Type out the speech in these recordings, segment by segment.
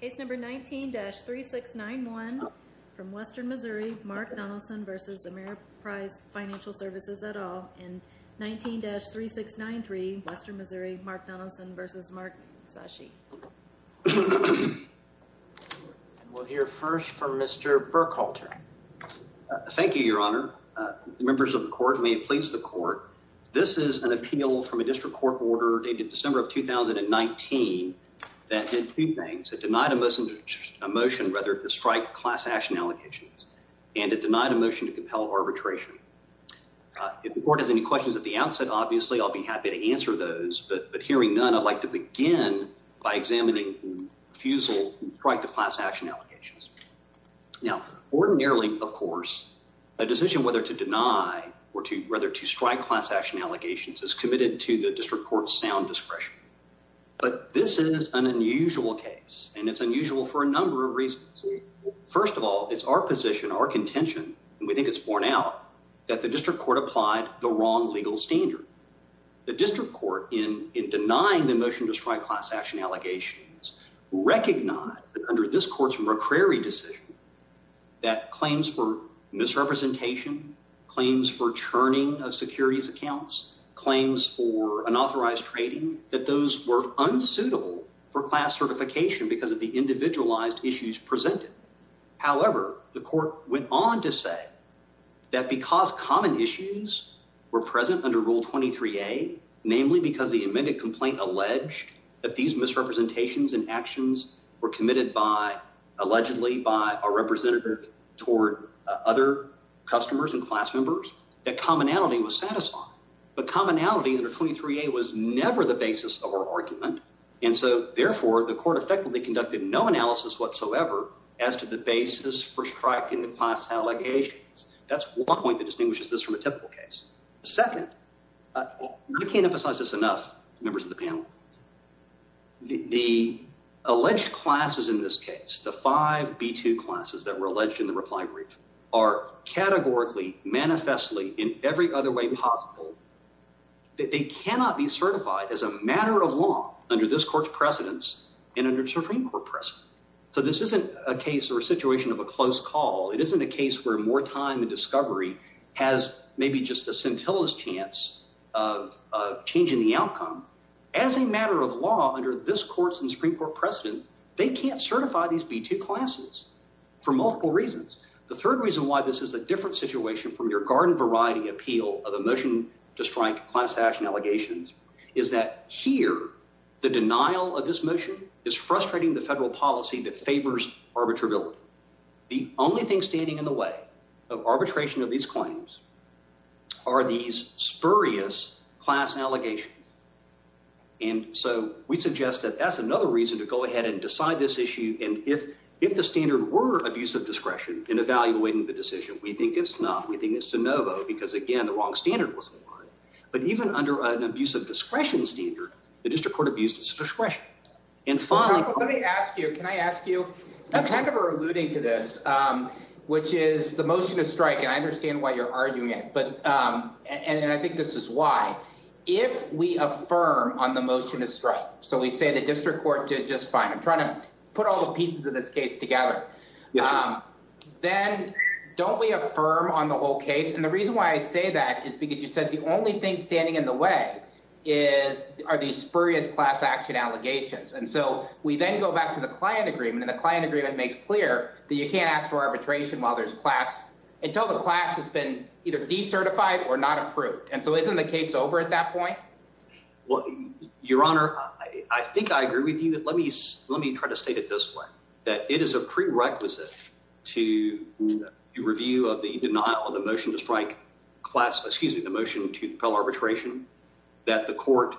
Case number 19-3691 from Western Missouri, Mark Donelson v. Ameriprise Financial Svcs, et al., and 19-3693, Western Missouri, Mark Donelson v. Mark Zasci. And we'll hear first from Mr. Burkhalter. Thank you, Your Honor. Members of the Court, may it please the Court, this is an appeal from a district court order dated December of 2019 that did two things, it denied a motion, rather, to strike class action allegations, and it denied a motion to compel arbitration. If the Court has any questions at the outset, obviously, I'll be happy to answer those, but hearing none, I'd like to begin by examining refusal to strike the class action allegations. Now, ordinarily, of course, a decision whether to deny or to, rather, to strike class action allegations is committed to the district court's sound discretion. But this is an unusual case, and it's unusual for a number of reasons. First of all, it's our position, our contention, and we think it's borne out, that the district court applied the wrong legal standard. The district court, in denying the motion to strike class action allegations, recognized that under this court's McCrary decision, that claims for misrepresentation, claims for churning of securities accounts, claims for unauthorized trading, that those were unsuitable for class certification because of the individualized issues presented. However, the court went on to say that because common issues were present under Rule 23A, namely because the amended complaint alleged that these misrepresentations and actions were committed by, allegedly, by a representative toward other customers and class members, that commonality was satisfied. But commonality under 23A was never the basis of our argument, and so, therefore, the court effectively conducted no analysis whatsoever as to the basis for striking the class allegations. That's one point that distinguishes this from a typical case. Second, I can't emphasize this enough, members of the panel. The alleged classes in this case, the five B-2 classes that were alleged in the reply brief, are categorically, manifestly, in every other way possible, that they cannot be certified as a matter of law under this court's precedence and under the Supreme Court precedent. So this isn't a case or a situation of a close call, it isn't a case where more time and a scintillous chance of changing the outcome. As a matter of law, under this court's and Supreme Court precedent, they can't certify these B-2 classes for multiple reasons. The third reason why this is a different situation from your garden variety appeal of a motion to strike class action allegations is that here, the denial of this motion is frustrating the federal policy that favors arbitrability. The only thing standing in the way of arbitration of these claims are these spurious class allegations. And so we suggest that that's another reason to go ahead and decide this issue, and if the standard were abuse of discretion in evaluating the decision, we think it's not. We think it's de novo, because again, the wrong standard was applied. But even under an abuse of discretion standard, the district court abused its discretion. And finally, let me ask you, can I ask you, kind of alluding to this, which is the motion to strike, and I understand why you're arguing it, but and I think this is why, if we affirm on the motion to strike, so we say the district court did just fine. I'm trying to put all the pieces of this case together. Then don't we affirm on the whole case? And the reason why I say that is because you said the only thing standing in the way is are these spurious class action allegations. And so we then go back to the client agreement and the client agreement makes clear that you can't ask for arbitration while there's class until the class has been either decertified or not approved. And so isn't the case over at that point? Well, your honor, I think I agree with you. Let me let me try to state it this way, that it is a prerequisite to review of the denial of the motion to strike class, excuse me, the motion to compel arbitration that the court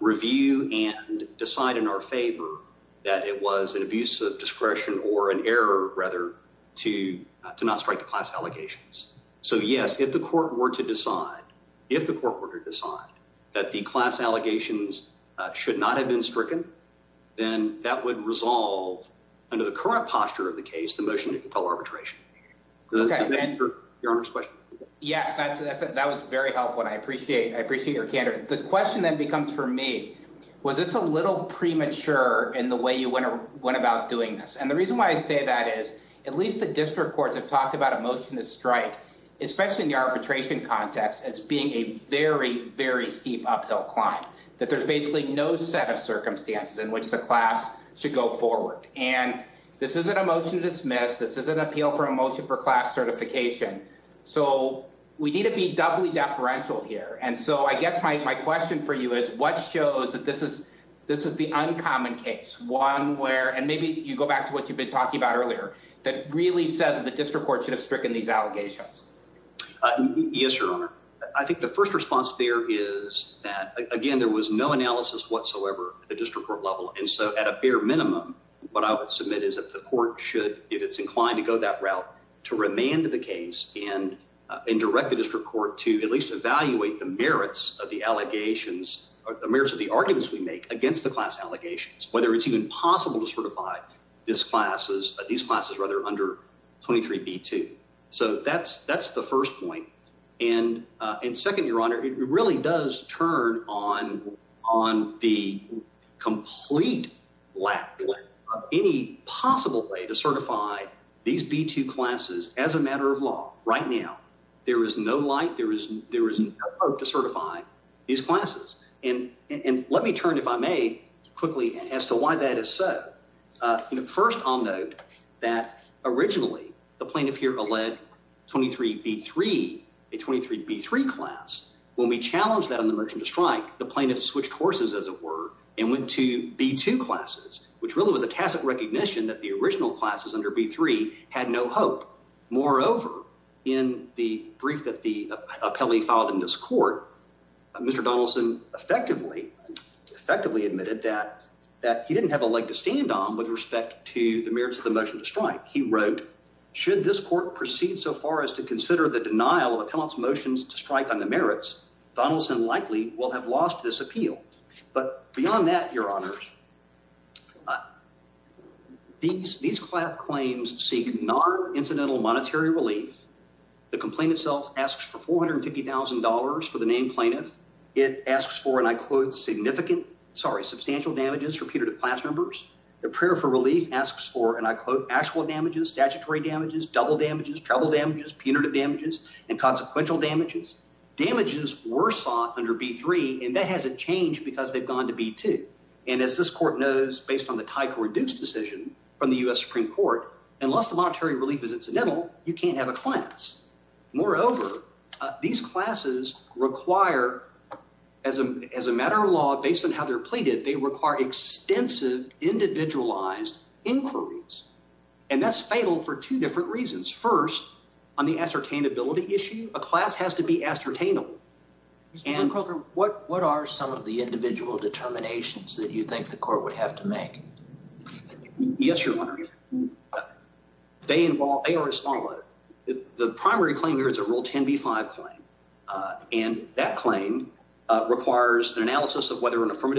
review and decide in our favor that it was an abuse of discretion or an error rather to to not strike the class allegations. So yes, if the court were to decide, if the court were to decide that the class allegations should not have been stricken, then that would resolve under the current posture of the case, the motion to compel arbitration for your honor's question. Yes, that's that was very helpful. And I appreciate I appreciate your candor. The question then becomes for me, was this a little premature in the way you went about doing this? And the reason why I say that is at least the district courts have talked about a motion to strike, especially in the arbitration context as being a very, very steep uphill climb, that there's basically no set of circumstances in which the class should go forward. And this isn't a motion to dismiss. This is an appeal for a motion for class certification. So we need to be doubly deferential here. And so I guess my question for you is what shows that this is this is the uncommon case one where and maybe you go back to what you've been talking about earlier that really says the district court should have stricken these allegations. Yes, your honor. I think the first response there is that, again, there was no analysis whatsoever at the district court level. And so at a bare minimum, what I would submit is that the court should, if it's inclined to go that route, to remand the case and and direct the district court to at least evaluate the merits of the allegations or the merits of the arguments we make against the class allegations, whether it's even possible to certify this class as these classes rather under 23 B2. So that's that's the first point. And in second, your honor, it really does turn on on the complete lack of any possible way to certify these B2 classes as a matter of law. Right now, there is no light. There is there is no hope to certify these classes. And let me turn, if I may, quickly as to why that is so. First, I'll note that originally the plaintiff here alleged 23 B3, a 23 B3 class. When we challenged that on the merchant to strike, the plaintiff switched horses, as it were, and went to B2 classes, which really was a tacit recognition that the original classes under B3 had no hope. Moreover, in the brief that the appellee filed in this court, Mr. He didn't have a leg to stand on with respect to the merits of the motion to strike. He wrote, should this court proceed so far as to consider the denial of appellant's motions to strike on the merits, Donaldson likely will have lost this appeal. But beyond that, your honors. These these claims seek non-incidental monetary relief. The complaint itself asks for four hundred and fifty thousand dollars for the named plaintiff. It asks for, and I quote, significant sorry, substantial damages for Peter to class members. The prayer for relief asks for, and I quote, actual damages, statutory damages, double damages, travel damages, punitive damages and consequential damages. Damages were sought under B3. And that hasn't changed because they've gone to B2. And as this court knows, based on the title reduced decision from the U.S. Supreme Court, unless the monetary relief is incidental, you can't have a class. Moreover, these classes require as a as a matter of law, based on how they're pleaded, they require extensive individualized inquiries. And that's fatal for two different reasons. First, on the ascertainability issue, a class has to be ascertainable. And what what are some of the individual determinations that you think the court would have to make? Yes, your honor. They involve, they are a small, the primary claim here is a rule 10B5 claim, and that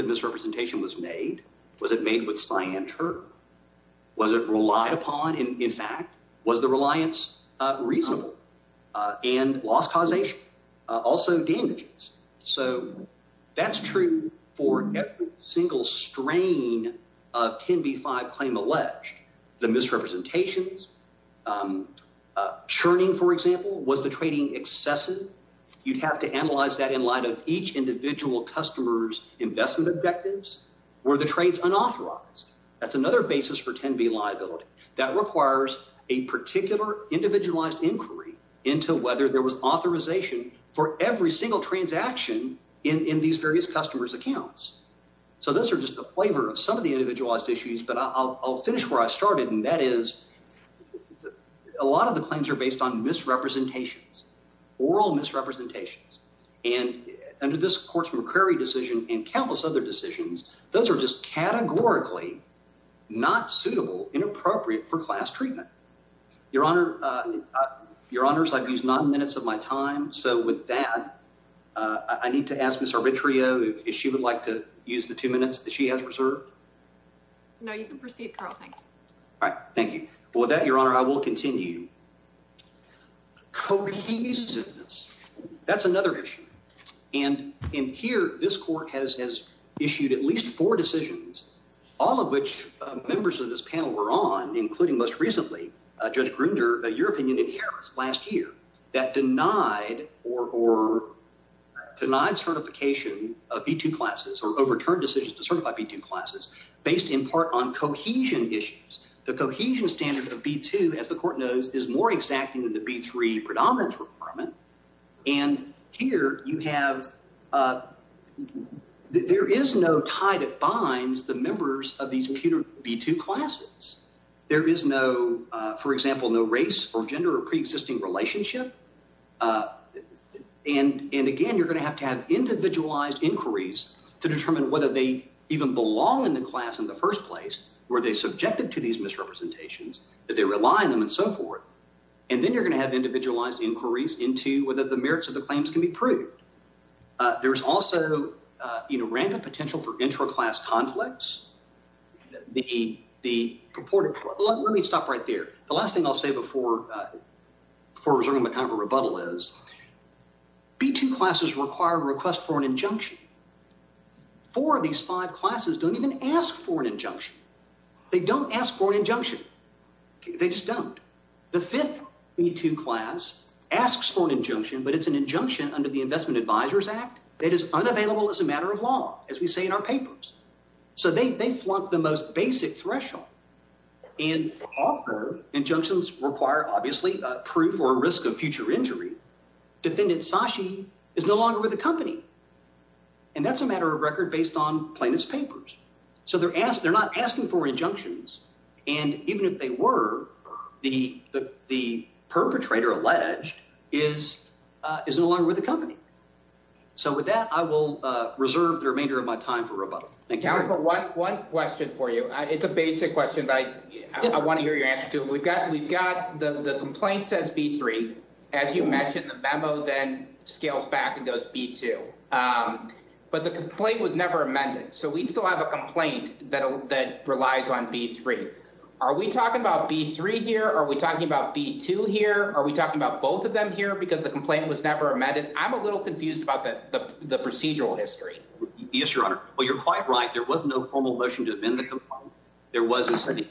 misrepresentation was made. Was it made with cyanide? Was it relied upon? And in fact, was the reliance reasonable and loss causation also damages? So that's true for every single strain of 10B5 claim alleged the misrepresentations churning, for example, was the trading excessive. You'd have to analyze that in light of each individual customer's investment objectives. Were the trades unauthorized? That's another basis for 10B liability that requires a particular individualized inquiry into whether there was authorization for every single transaction in these various customers accounts. So those are just the flavor of some of the individualized issues. But I'll finish where I started, and that is a lot of the claims are based on misrepresentations, oral misrepresentations. And under this court's McCrary decision and countless other decisions, those are just categorically not suitable and appropriate for class treatment. Your honor, your honors, I've used nine minutes of my time. So with that, I need to ask Ms. Arbitrio if she would like to use the two minutes that she has reserved. No, you can proceed, Carl, thanks. All right. Thank you. Well, with that, your honor, I will continue. Cohesiveness, that's another issue. And in here, this court has issued at least four decisions, all of which members of this panel were on, including most recently Judge Grinder, your opinion in Harris last year that denied or denied certification of B2 classes or overturned decisions to certify B2 classes based in part on cohesion issues. The cohesion standard of B2, as the court knows, is more exacting than the B3 predominance requirement. And here you have there is no tie that binds the members of these B2 classes. There is no, for example, no race or gender or preexisting relationship. And again, you're going to have to have individualized inquiries to determine whether they even belong in the class in the first place, where they subjected to these misrepresentations, that they rely on them and so forth. And then you're going to have individualized inquiries into whether the merits of the claims can be proved. There's also rampant potential for intra-class conflicts. The purported, let me stop right there. The last thing I'll say before resuming my kind of a rebuttal is B2 classes require a request for an injunction. Four of these five classes don't even ask for an injunction. They don't ask for an injunction. They just don't. The fifth B2 class asks for an injunction, but it's an injunction under the Investment Advisors Act that is unavailable as a matter of law, as we say in our papers. So they flunk the most basic threshold. And often injunctions require, obviously, proof or risk of future injury. Defendant Sashi is no longer with the company. And that's a matter of record based on plaintiff's papers. So they're asked, they're not asking for injunctions. And even if they were, the perpetrator alleged is no longer with the company. So with that, I will reserve the remainder of my time for rebuttal. Thank you. Counselor, one question for you. It's a basic question, but I want to hear your answer to it. We've got the complaint says B3, as you mentioned, the memo then scales back and goes B2, but the complaint was never amended. So we still have a complaint that relies on B3. Are we talking about B3 here? Are we talking about B2 here? Are we talking about both of them here? Because the complaint was never amended. I'm a little confused about the procedural history. Yes, Your Honor. Well, you're quite right. There was no formal motion to amend the complaint. There was a,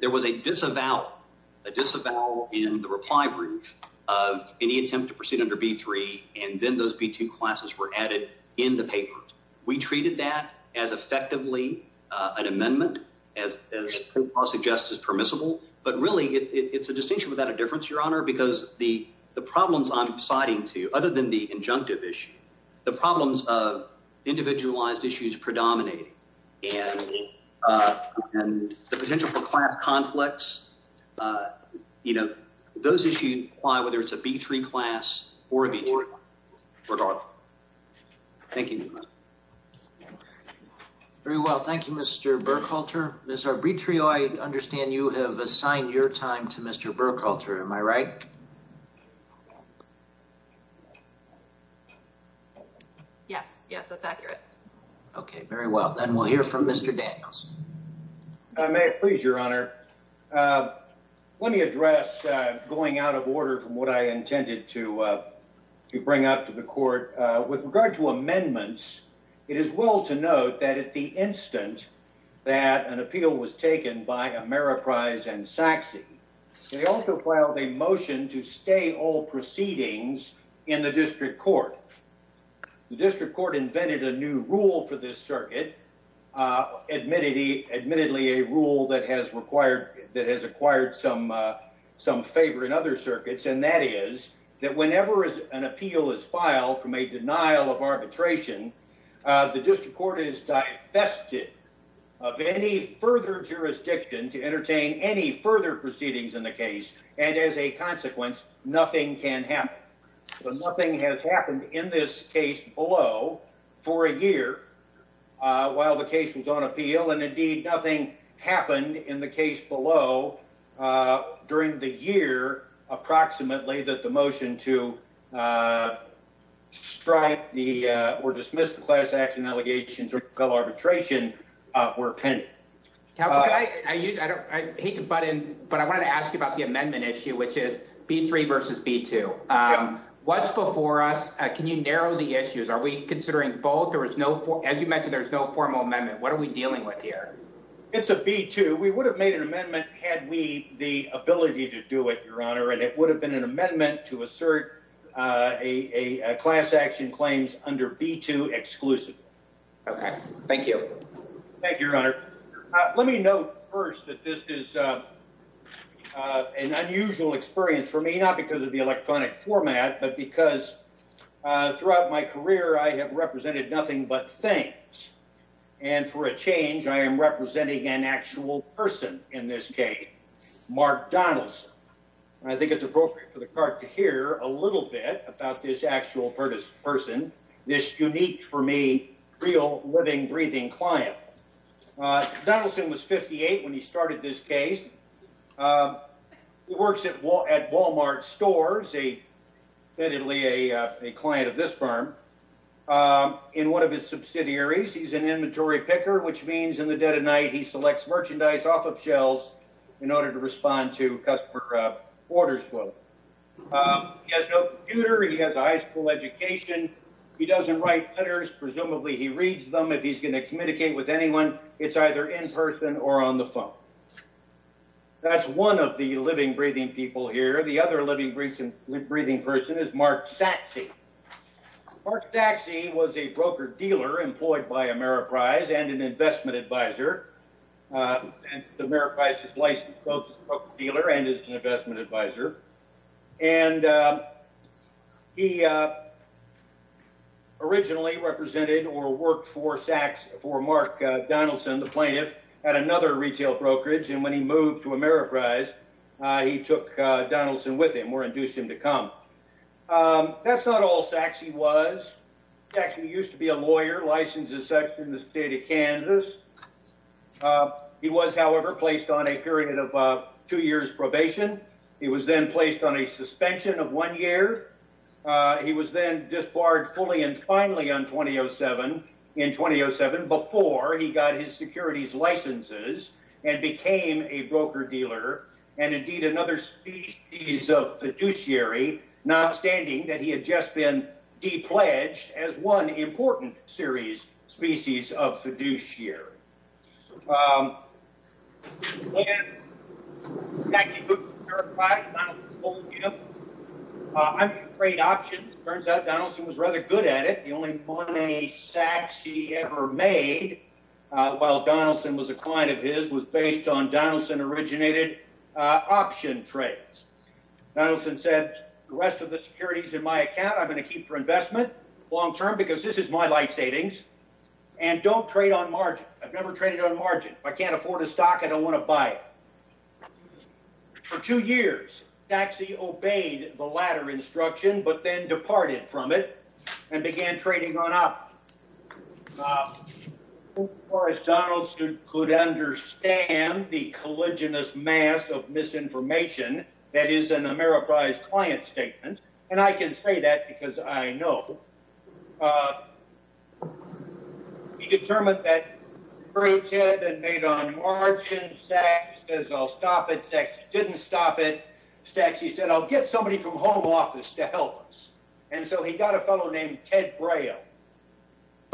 there was a disavow, a disavow in the reply brief of any attempt to proceed under B3, and then those B2 classes were added in the papers. We treated that as effectively an amendment as I suggest is permissible, but really it's a distinction without a difference, Your Honor, because the, the problems I'm citing to you, other than the injunctive issue, the problems of the potential for class conflicts, uh, you know, those issues apply whether it's a B3 class or a B2 class, regardless. Thank you, Your Honor. Very well. Thank you, Mr. Burkhalter. Ms. Arbitrio, I understand you have assigned your time to Mr. Burkhalter, am I right? Yes. Yes, that's accurate. Okay. Very well. Then we'll hear from Mr. Daniels. I may, please, Your Honor. Uh, let me address, uh, going out of order from what I intended to, uh, to bring up to the court, uh, with regard to amendments, it is well to note that at the instant that an appeal was taken by Ameriprise and Sachse, they also filed a motion to stay all proceedings in the district court. The district court invented a new rule for this circuit. Uh, admittedly, admittedly a rule that has required, that has acquired some, uh, some favor in other circuits. And that is that whenever an appeal is filed from a denial of arbitration, uh, the district court is divested of any further jurisdiction to entertain any further proceedings in the case. And as a consequence, nothing can happen. But nothing has happened in this case below for a year, uh, while the case was on appeal and indeed nothing happened in the case below, uh, during the year, approximately that the motion to, uh, strike the, uh, or dismiss the class action allegations of arbitration, uh, were penned. Counselor, I, I use, I don't, I hate to butt in, but I wanted to ask you about the amendment issue, which is B3 versus B2. Um, what's before us, uh, can you narrow the issues? Are we considering both? There was no, as you mentioned, there's no formal amendment. What are we dealing with here? It's a B2. We would have made an amendment had we the ability to do it, your honor. And it would have been an amendment to assert, uh, a, a class action claims under B2 exclusively. Okay. Thank you. Thank you, your honor. Uh, let me know first that this is, uh, uh, an unusual experience for me, not because of the electronic format, but because, uh, throughout my career, I have represented nothing but things. And for a change, I am representing an actual person in this case, Mark Donaldson. I think it's appropriate for the court to hear a little bit about this actual person, this unique for me, real living, breathing client. Uh, Donaldson was 58 when he started this case. Um, he works at wall at Walmart stores. A definitely a, uh, a client of this firm. Um, in one of his subsidiaries, he's an inventory picker, which means in the dead of night, he selects merchandise off of shelves in order to respond to customer orders, quote, um, he has no computer. He has a high school education. He doesn't write letters. Presumably he reads them. If he's going to communicate with anyone, it's either in person or on the phone. That's one of the living, breathing people here. The other living, breathing, breathing person is Mark Sachse. Mark Sachse was a broker dealer employed by Ameriprise and an investment advisor. Uh, the Ameriprise is licensed broker dealer and is an investment advisor. And, um, he, uh, originally represented or worked for Sachs for Mark Donaldson, the plaintiff at another retail brokerage. And when he moved to Ameriprise, uh, he took, uh, Donaldson with him or induced him to come. Um, that's not all Sachse was. Sachse used to be a lawyer, licensed as such in the state of Kansas. Uh, he was however, placed on a period of, uh, two years probation. He was then placed on a suspension of one year. Uh, he was then disbarred fully and finally on 2007 in 2007 before he got his securities licenses and became a broker dealer and indeed another species of fiduciary, not standing that he had just been de-pledged as one important series species of fiduciary. Um, when Sachse moved to Ameriprise, Donaldson told him, uh, I'm a great option. It turns out Donaldson was rather good at it. The only money Sachse ever made, uh, while Donaldson was a client of his was based on Donaldson originated, uh, option trades, Donaldson said, the rest of the securities in my account, I'm going to keep for investment long-term because this is my life savings and don't trade on margin. I've never traded on margin. I can't afford a stock. I don't want to buy it. For two years, Sachse obeyed the latter instruction, but then departed from it and began trading on option. Uh, of course, Donaldson could understand the colliginous mass of misinformation that is an Ameriprise client statement, and I can say that because I know, uh, he determined that very good and made on margin. Sachse says, I'll stop it. Sachse didn't stop it. Sachse said, I'll get somebody from home office to help us. And so he got a fellow named Ted Braille.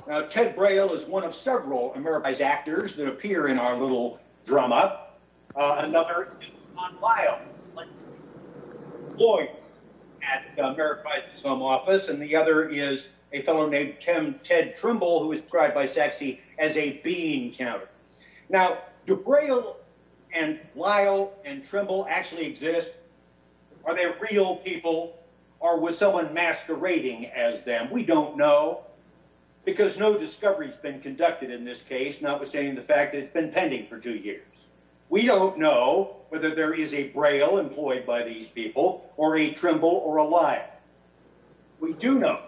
Now, Ted Braille is one of several Ameriprise actors that appear in our little drum up. Uh, another is Ron Lyle, a lawyer at Ameriprise's home office. And the other is a fellow named Ted Trimble, who is described by Sachse as a being counter. Now, do Braille and Lyle and Trimble actually exist? Are they real people? Or was someone masquerading as them? We don't know because no discovery has been conducted in this case, not withstanding the fact that it's been pending for two years, we don't know whether there is a Braille employed by these people or a Trimble or a Lyle. We do know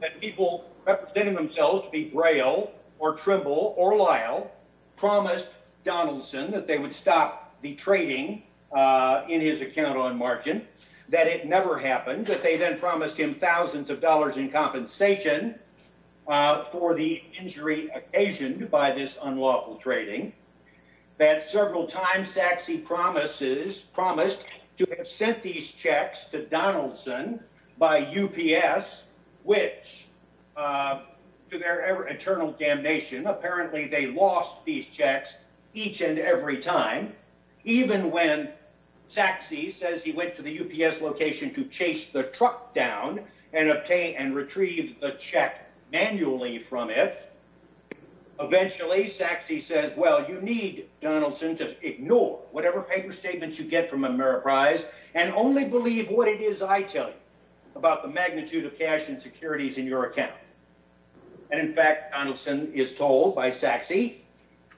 that people representing themselves to be Braille or Trimble or Lyle promised Donaldson that they would stop the trading, uh, in his account on margin, that it never happened, that they then promised him thousands of dollars in compensation, uh, for the injury occasioned by this unlawful trading, that several times Sachse promises, promised to have sent these checks to Donaldson by UPS, which, uh, to their eternal damnation, apparently they lost these checks each and every time, even when Sachse says he went to the UPS location to chase the truck down and obtain and retrieve the check manually from it, eventually Sachse says, well, you need Donaldson to ignore whatever paper statements you get from Ameriprise and only believe what it is I tell you about the magnitude of cash insecurities in your account. And in fact, Donaldson is told by Sachse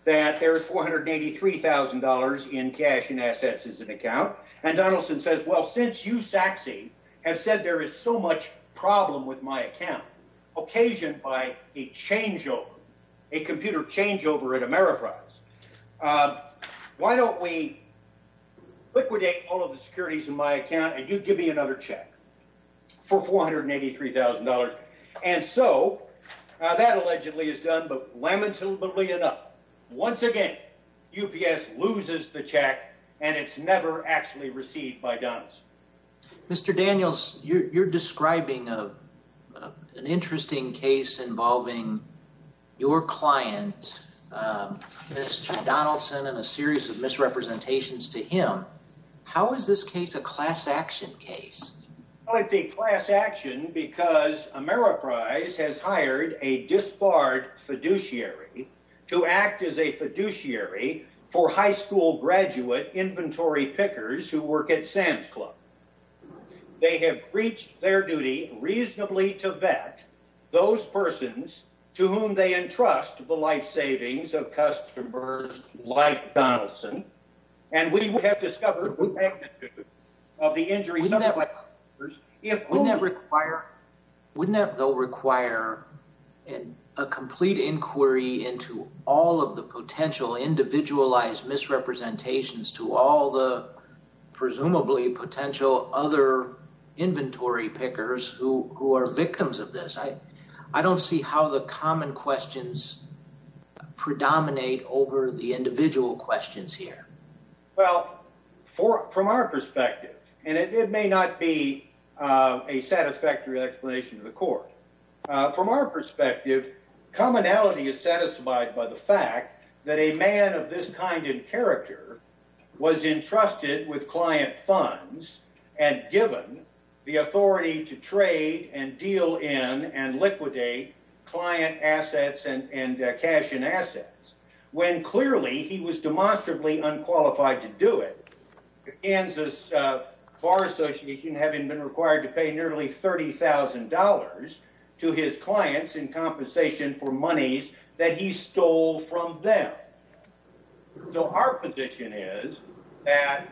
that there is $483,000 in cash and assets as an account, and Donaldson says, well, since you Sachse have said there is so much problem with my account occasioned by a changeover, a computer changeover at Ameriprise, uh, why don't we liquidate all of the securities in my account and you give me another check for $483,000. And so, uh, that allegedly is done. But lamentably enough, once again, UPS loses the check and it's never actually received by Donaldson. Mr. Daniels, you're, you're describing, uh, uh, an interesting case involving your client, uh, Mr. Donaldson and a series of misrepresentations to him. How is this case a class action case? I think class action because Ameriprise has hired a disbarred fiduciary to act as a fiduciary for high school graduate inventory pickers who work at Sam's club. They have reached their duty reasonably to vet those persons to whom they entrust the life savings of customers like Donaldson. And we would have discovered the magnitude of the injury. Wouldn't that require, wouldn't that though require a complete inquiry into all of the potential individualized misrepresentations to all the presumably potential other inventory pickers who, who are victims of this? I, I don't see how the common questions predominate over the individual questions here. Well, for, from our perspective, and it may not be, uh, a satisfactory explanation to the court, uh, from our perspective, commonality is satisfied by the fact that a man of this kind in character was entrusted with client funds and given the authority to trade and deal in and liquidate client assets and cash and assets. When clearly he was demonstrably unqualified to do it, Kansas Bar Association having been required to pay nearly $30,000 to his clients in compensation for monies that he stole from them. So our position is that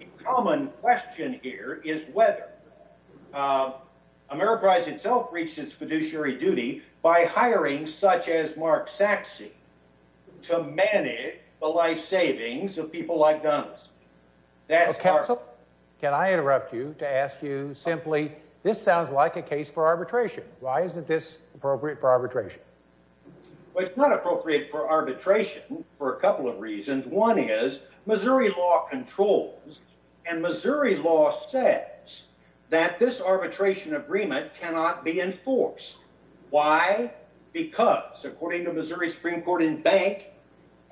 a common question here is whether, uh, Ameriprise itself reached its fiduciary duty by hiring such as Mark Saxe to manage the life savings of people like Donaldson. That's our- Counsel, can I interrupt you to ask you simply, this sounds like a case for arbitration. Why isn't this appropriate for arbitration? Well, it's not appropriate for arbitration for a couple of reasons. One is Missouri law controls and Missouri law says that this arbitration agreement cannot be enforced. Why? Because according to Missouri Supreme Court and bank,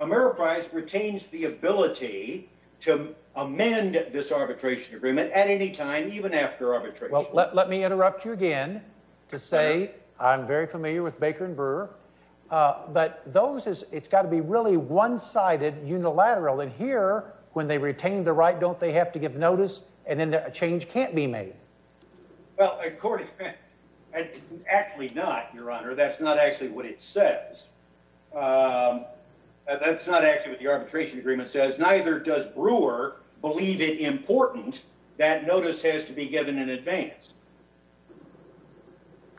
Ameriprise retains the ability to amend this arbitration agreement at any time, even after arbitration. Well, let me interrupt you again to say I'm very familiar with Baker and Brewer. Uh, but those is it's gotta be really one sided unilateral and here when they retain the right, don't they have to give notice and then a change can't be made? Well, according to bank, actually not your honor. That's not actually what it says. Um, that's not actually what the arbitration agreement says. Neither does Brewer believe it important that notice has to be given in advance.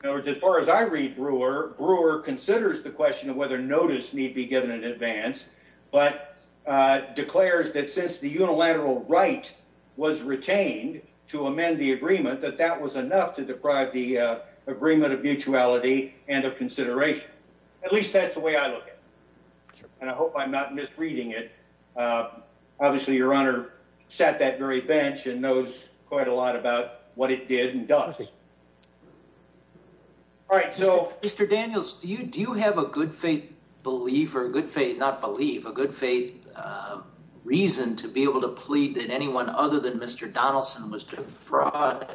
In other words, as far as I read Brewer, Brewer considers the question of whether notice need be given in advance, but, uh, declares that since the unilateral right was retained to amend the agreement, that that was enough to deprive the, uh, agreement of mutuality and of consideration. At least that's the way I look at it. And I hope I'm not misreading it. Uh, obviously your honor sat that very bench and knows quite a lot about what it did and does. All right. So, Mr. Daniels, do you, do you have a good faith believer, a good faith, not believe a good faith, uh, reason to be able to plead that anyone other than Mr. Donaldson was defrauded?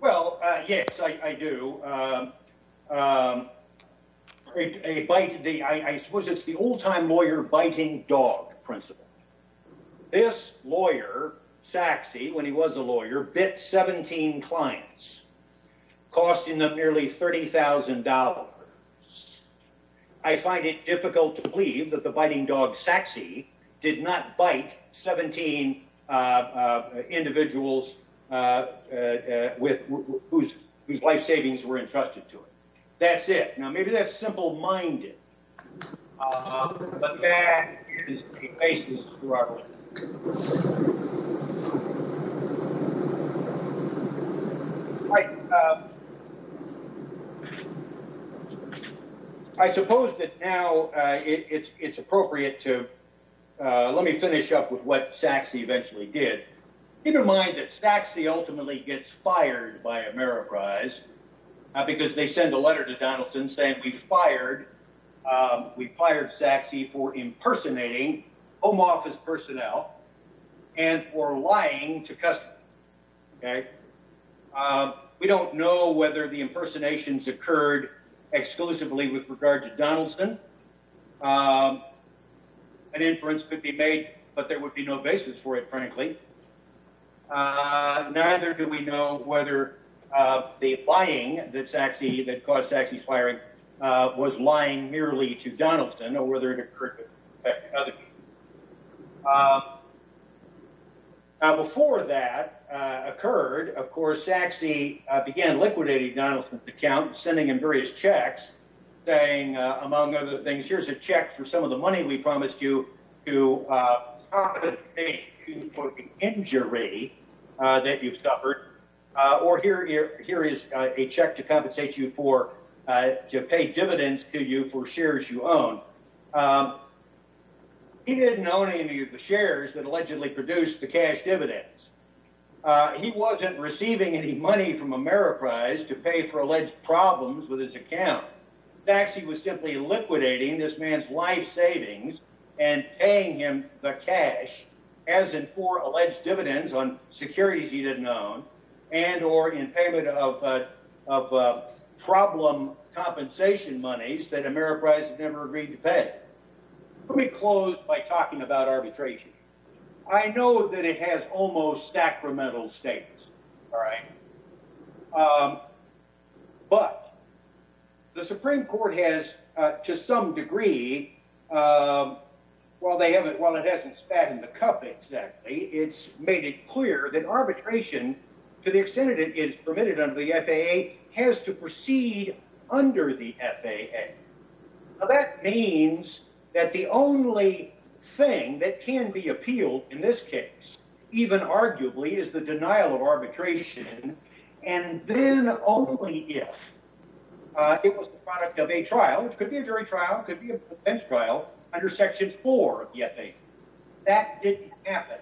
Well, uh, yes, I do. Um, um, a bite to the, I suppose it's the old time lawyer biting dog principle. This lawyer Sachse, when he was a lawyer, bit 17 clients costing them nearly $30,000. I find it difficult to believe that the biting dog Sachse did not bite 17, uh, uh, individuals, uh, uh, with whose, whose life savings were entrusted to it. That's it. Now, maybe that's simple minded, but that is the basis for our work. I suppose that now, uh, it's, it's appropriate to, uh, let me finish up with what Sachse eventually did. Keep in mind that Sachse ultimately gets fired by Ameriprise, uh, because they send a letter to Donaldson saying we fired, um, we fired Sachse for impersonating home office personnel and for lying to customers. Okay. Um, we don't know whether the impersonations occurred exclusively with regard to Donaldson. Um, an inference could be made, but there would be no basis for it, frankly. Uh, neither do we know whether, uh, the lying that Sachse, that caused Sachse's firing, uh, was lying merely to Donaldson or whether it occurred with other people. Um, now before that, uh, occurred, of course, Sachse began liquidating Donaldson's account, sending him various checks, saying, uh, among other things, here's a check for some of the money we promised you to, uh, compensate you for the injury, uh, that you've suffered. Uh, or here, here, here is a check to compensate you for, uh, to pay dividends to you for shares you own. Um, he didn't own any of the shares that allegedly produced the cash dividends. Uh, he wasn't receiving any money from Ameriprise to pay for alleged problems with his account. Sachse was simply liquidating this man's life savings and paying him the cash as in for alleged dividends on securities he didn't own and or in payment of, uh, of, uh, problem compensation monies that Ameriprise had never agreed to pay. Let me close by talking about arbitration. I know that it has almost sacramental status. All right. Um, but the Supreme court has, uh, to some degree, um, well, they haven't, well, it hasn't spat in the cup exactly. It's made it clear that arbitration to the extent that it is permitted under the FAA has to proceed under the FAA. Now that means that the only thing that can be appealed in this case, even arguably is the denial of arbitration. And then only if, uh, it was the product of a trial, which could be a jury trial could be a bench trial under section four of the FAA. That didn't happen.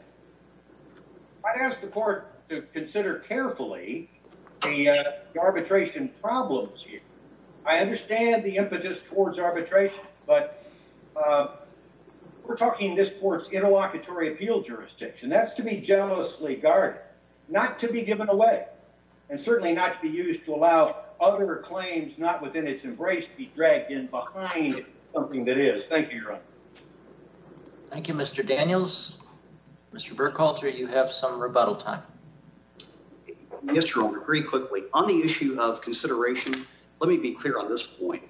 I'd ask the court to consider carefully the, uh, arbitration problems here. I understand the impetus towards arbitration, but, uh, we're talking this court's interlocutory appeal jurisdiction. That's to be generously guarded, not to be given away and certainly not to be not within its embrace, be dragged in behind something that is. Thank you, Your Honor. Thank you, Mr. Daniels, Mr. Burkhalter, you have some rebuttal time. Yes, Your Honor. Very quickly on the issue of consideration. Let me be clear on this point.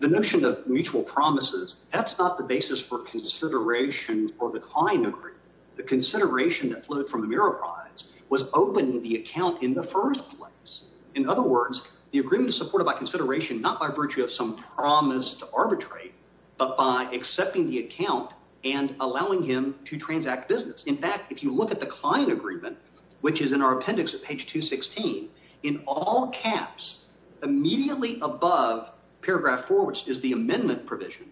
The notion of mutual promises, that's not the basis for consideration for the Klein agreement. The consideration that flowed from the Murrah prize was open to the account in the first place. In other words, the agreement is supported by consideration, not by virtue of some promise to arbitrate, but by accepting the account and allowing him to transact business. In fact, if you look at the client agreement, which is in our appendix at page two 16, in all caps, immediately above paragraph four, which is the amendment provision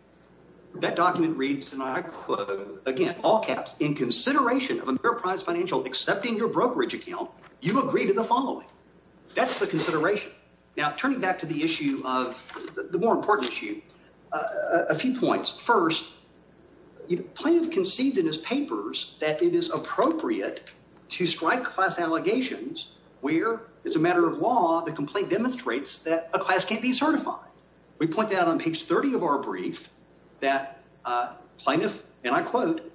that document reads, and I quote again, all caps in consideration of enterprise financial, accepting your brokerage account, you agree to the following. That's the consideration. Now, turning back to the issue of the more important issue, a few points. First, plaintiff conceived in his papers that it is appropriate to strike class allegations where it's a matter of law. The complaint demonstrates that a class can't be certified. We point that out on page 30 of our brief that plaintiff, and I quote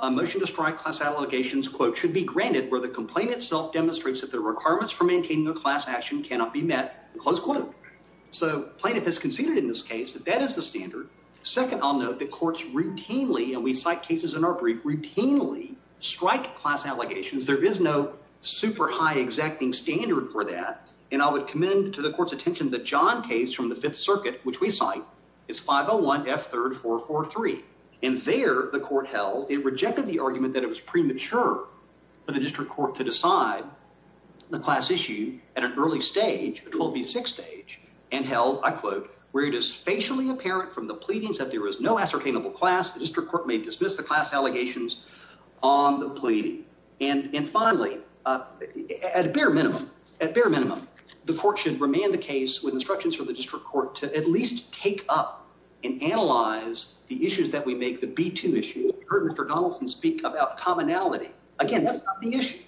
a motion to strike class allegations quote should be granted where the complaint itself demonstrates that the requirements for maintaining a class action cannot be met close quote. So plaintiff has conceded in this case that that is the standard. Second, I'll note that courts routinely, and we cite cases in our brief routinely strike class allegations. There is no super high exacting standard for that. And I would commend to the court's attention that John case from the fifth circuit, which we cite is 501 F third, four, four, three. And there the court held it rejected the argument that it was premature for the class issue at an early stage. It will be six stage and held I quote, where it is facially apparent from the pleadings that there is no ascertainable class district court may dismiss the class allegations on the pleading. And finally, at bare minimum, at bare minimum, the court should remain the case with instructions from the district court to at least take up and analyze the issues that we make the B2 issue. Heard Mr. Donaldson speak about commonality. Again, that's not the issue.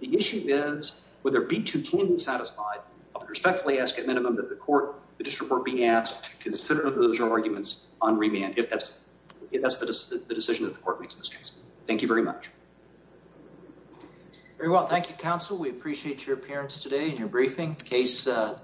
The issue is whether B2 can be satisfied. I would respectfully ask at minimum that the court, the district court being asked to consider those arguments on remand, if that's, if that's the decision that the court makes in this case. Thank you very much. Very well. Thank you, counsel. We appreciate your appearance today and your briefing case is.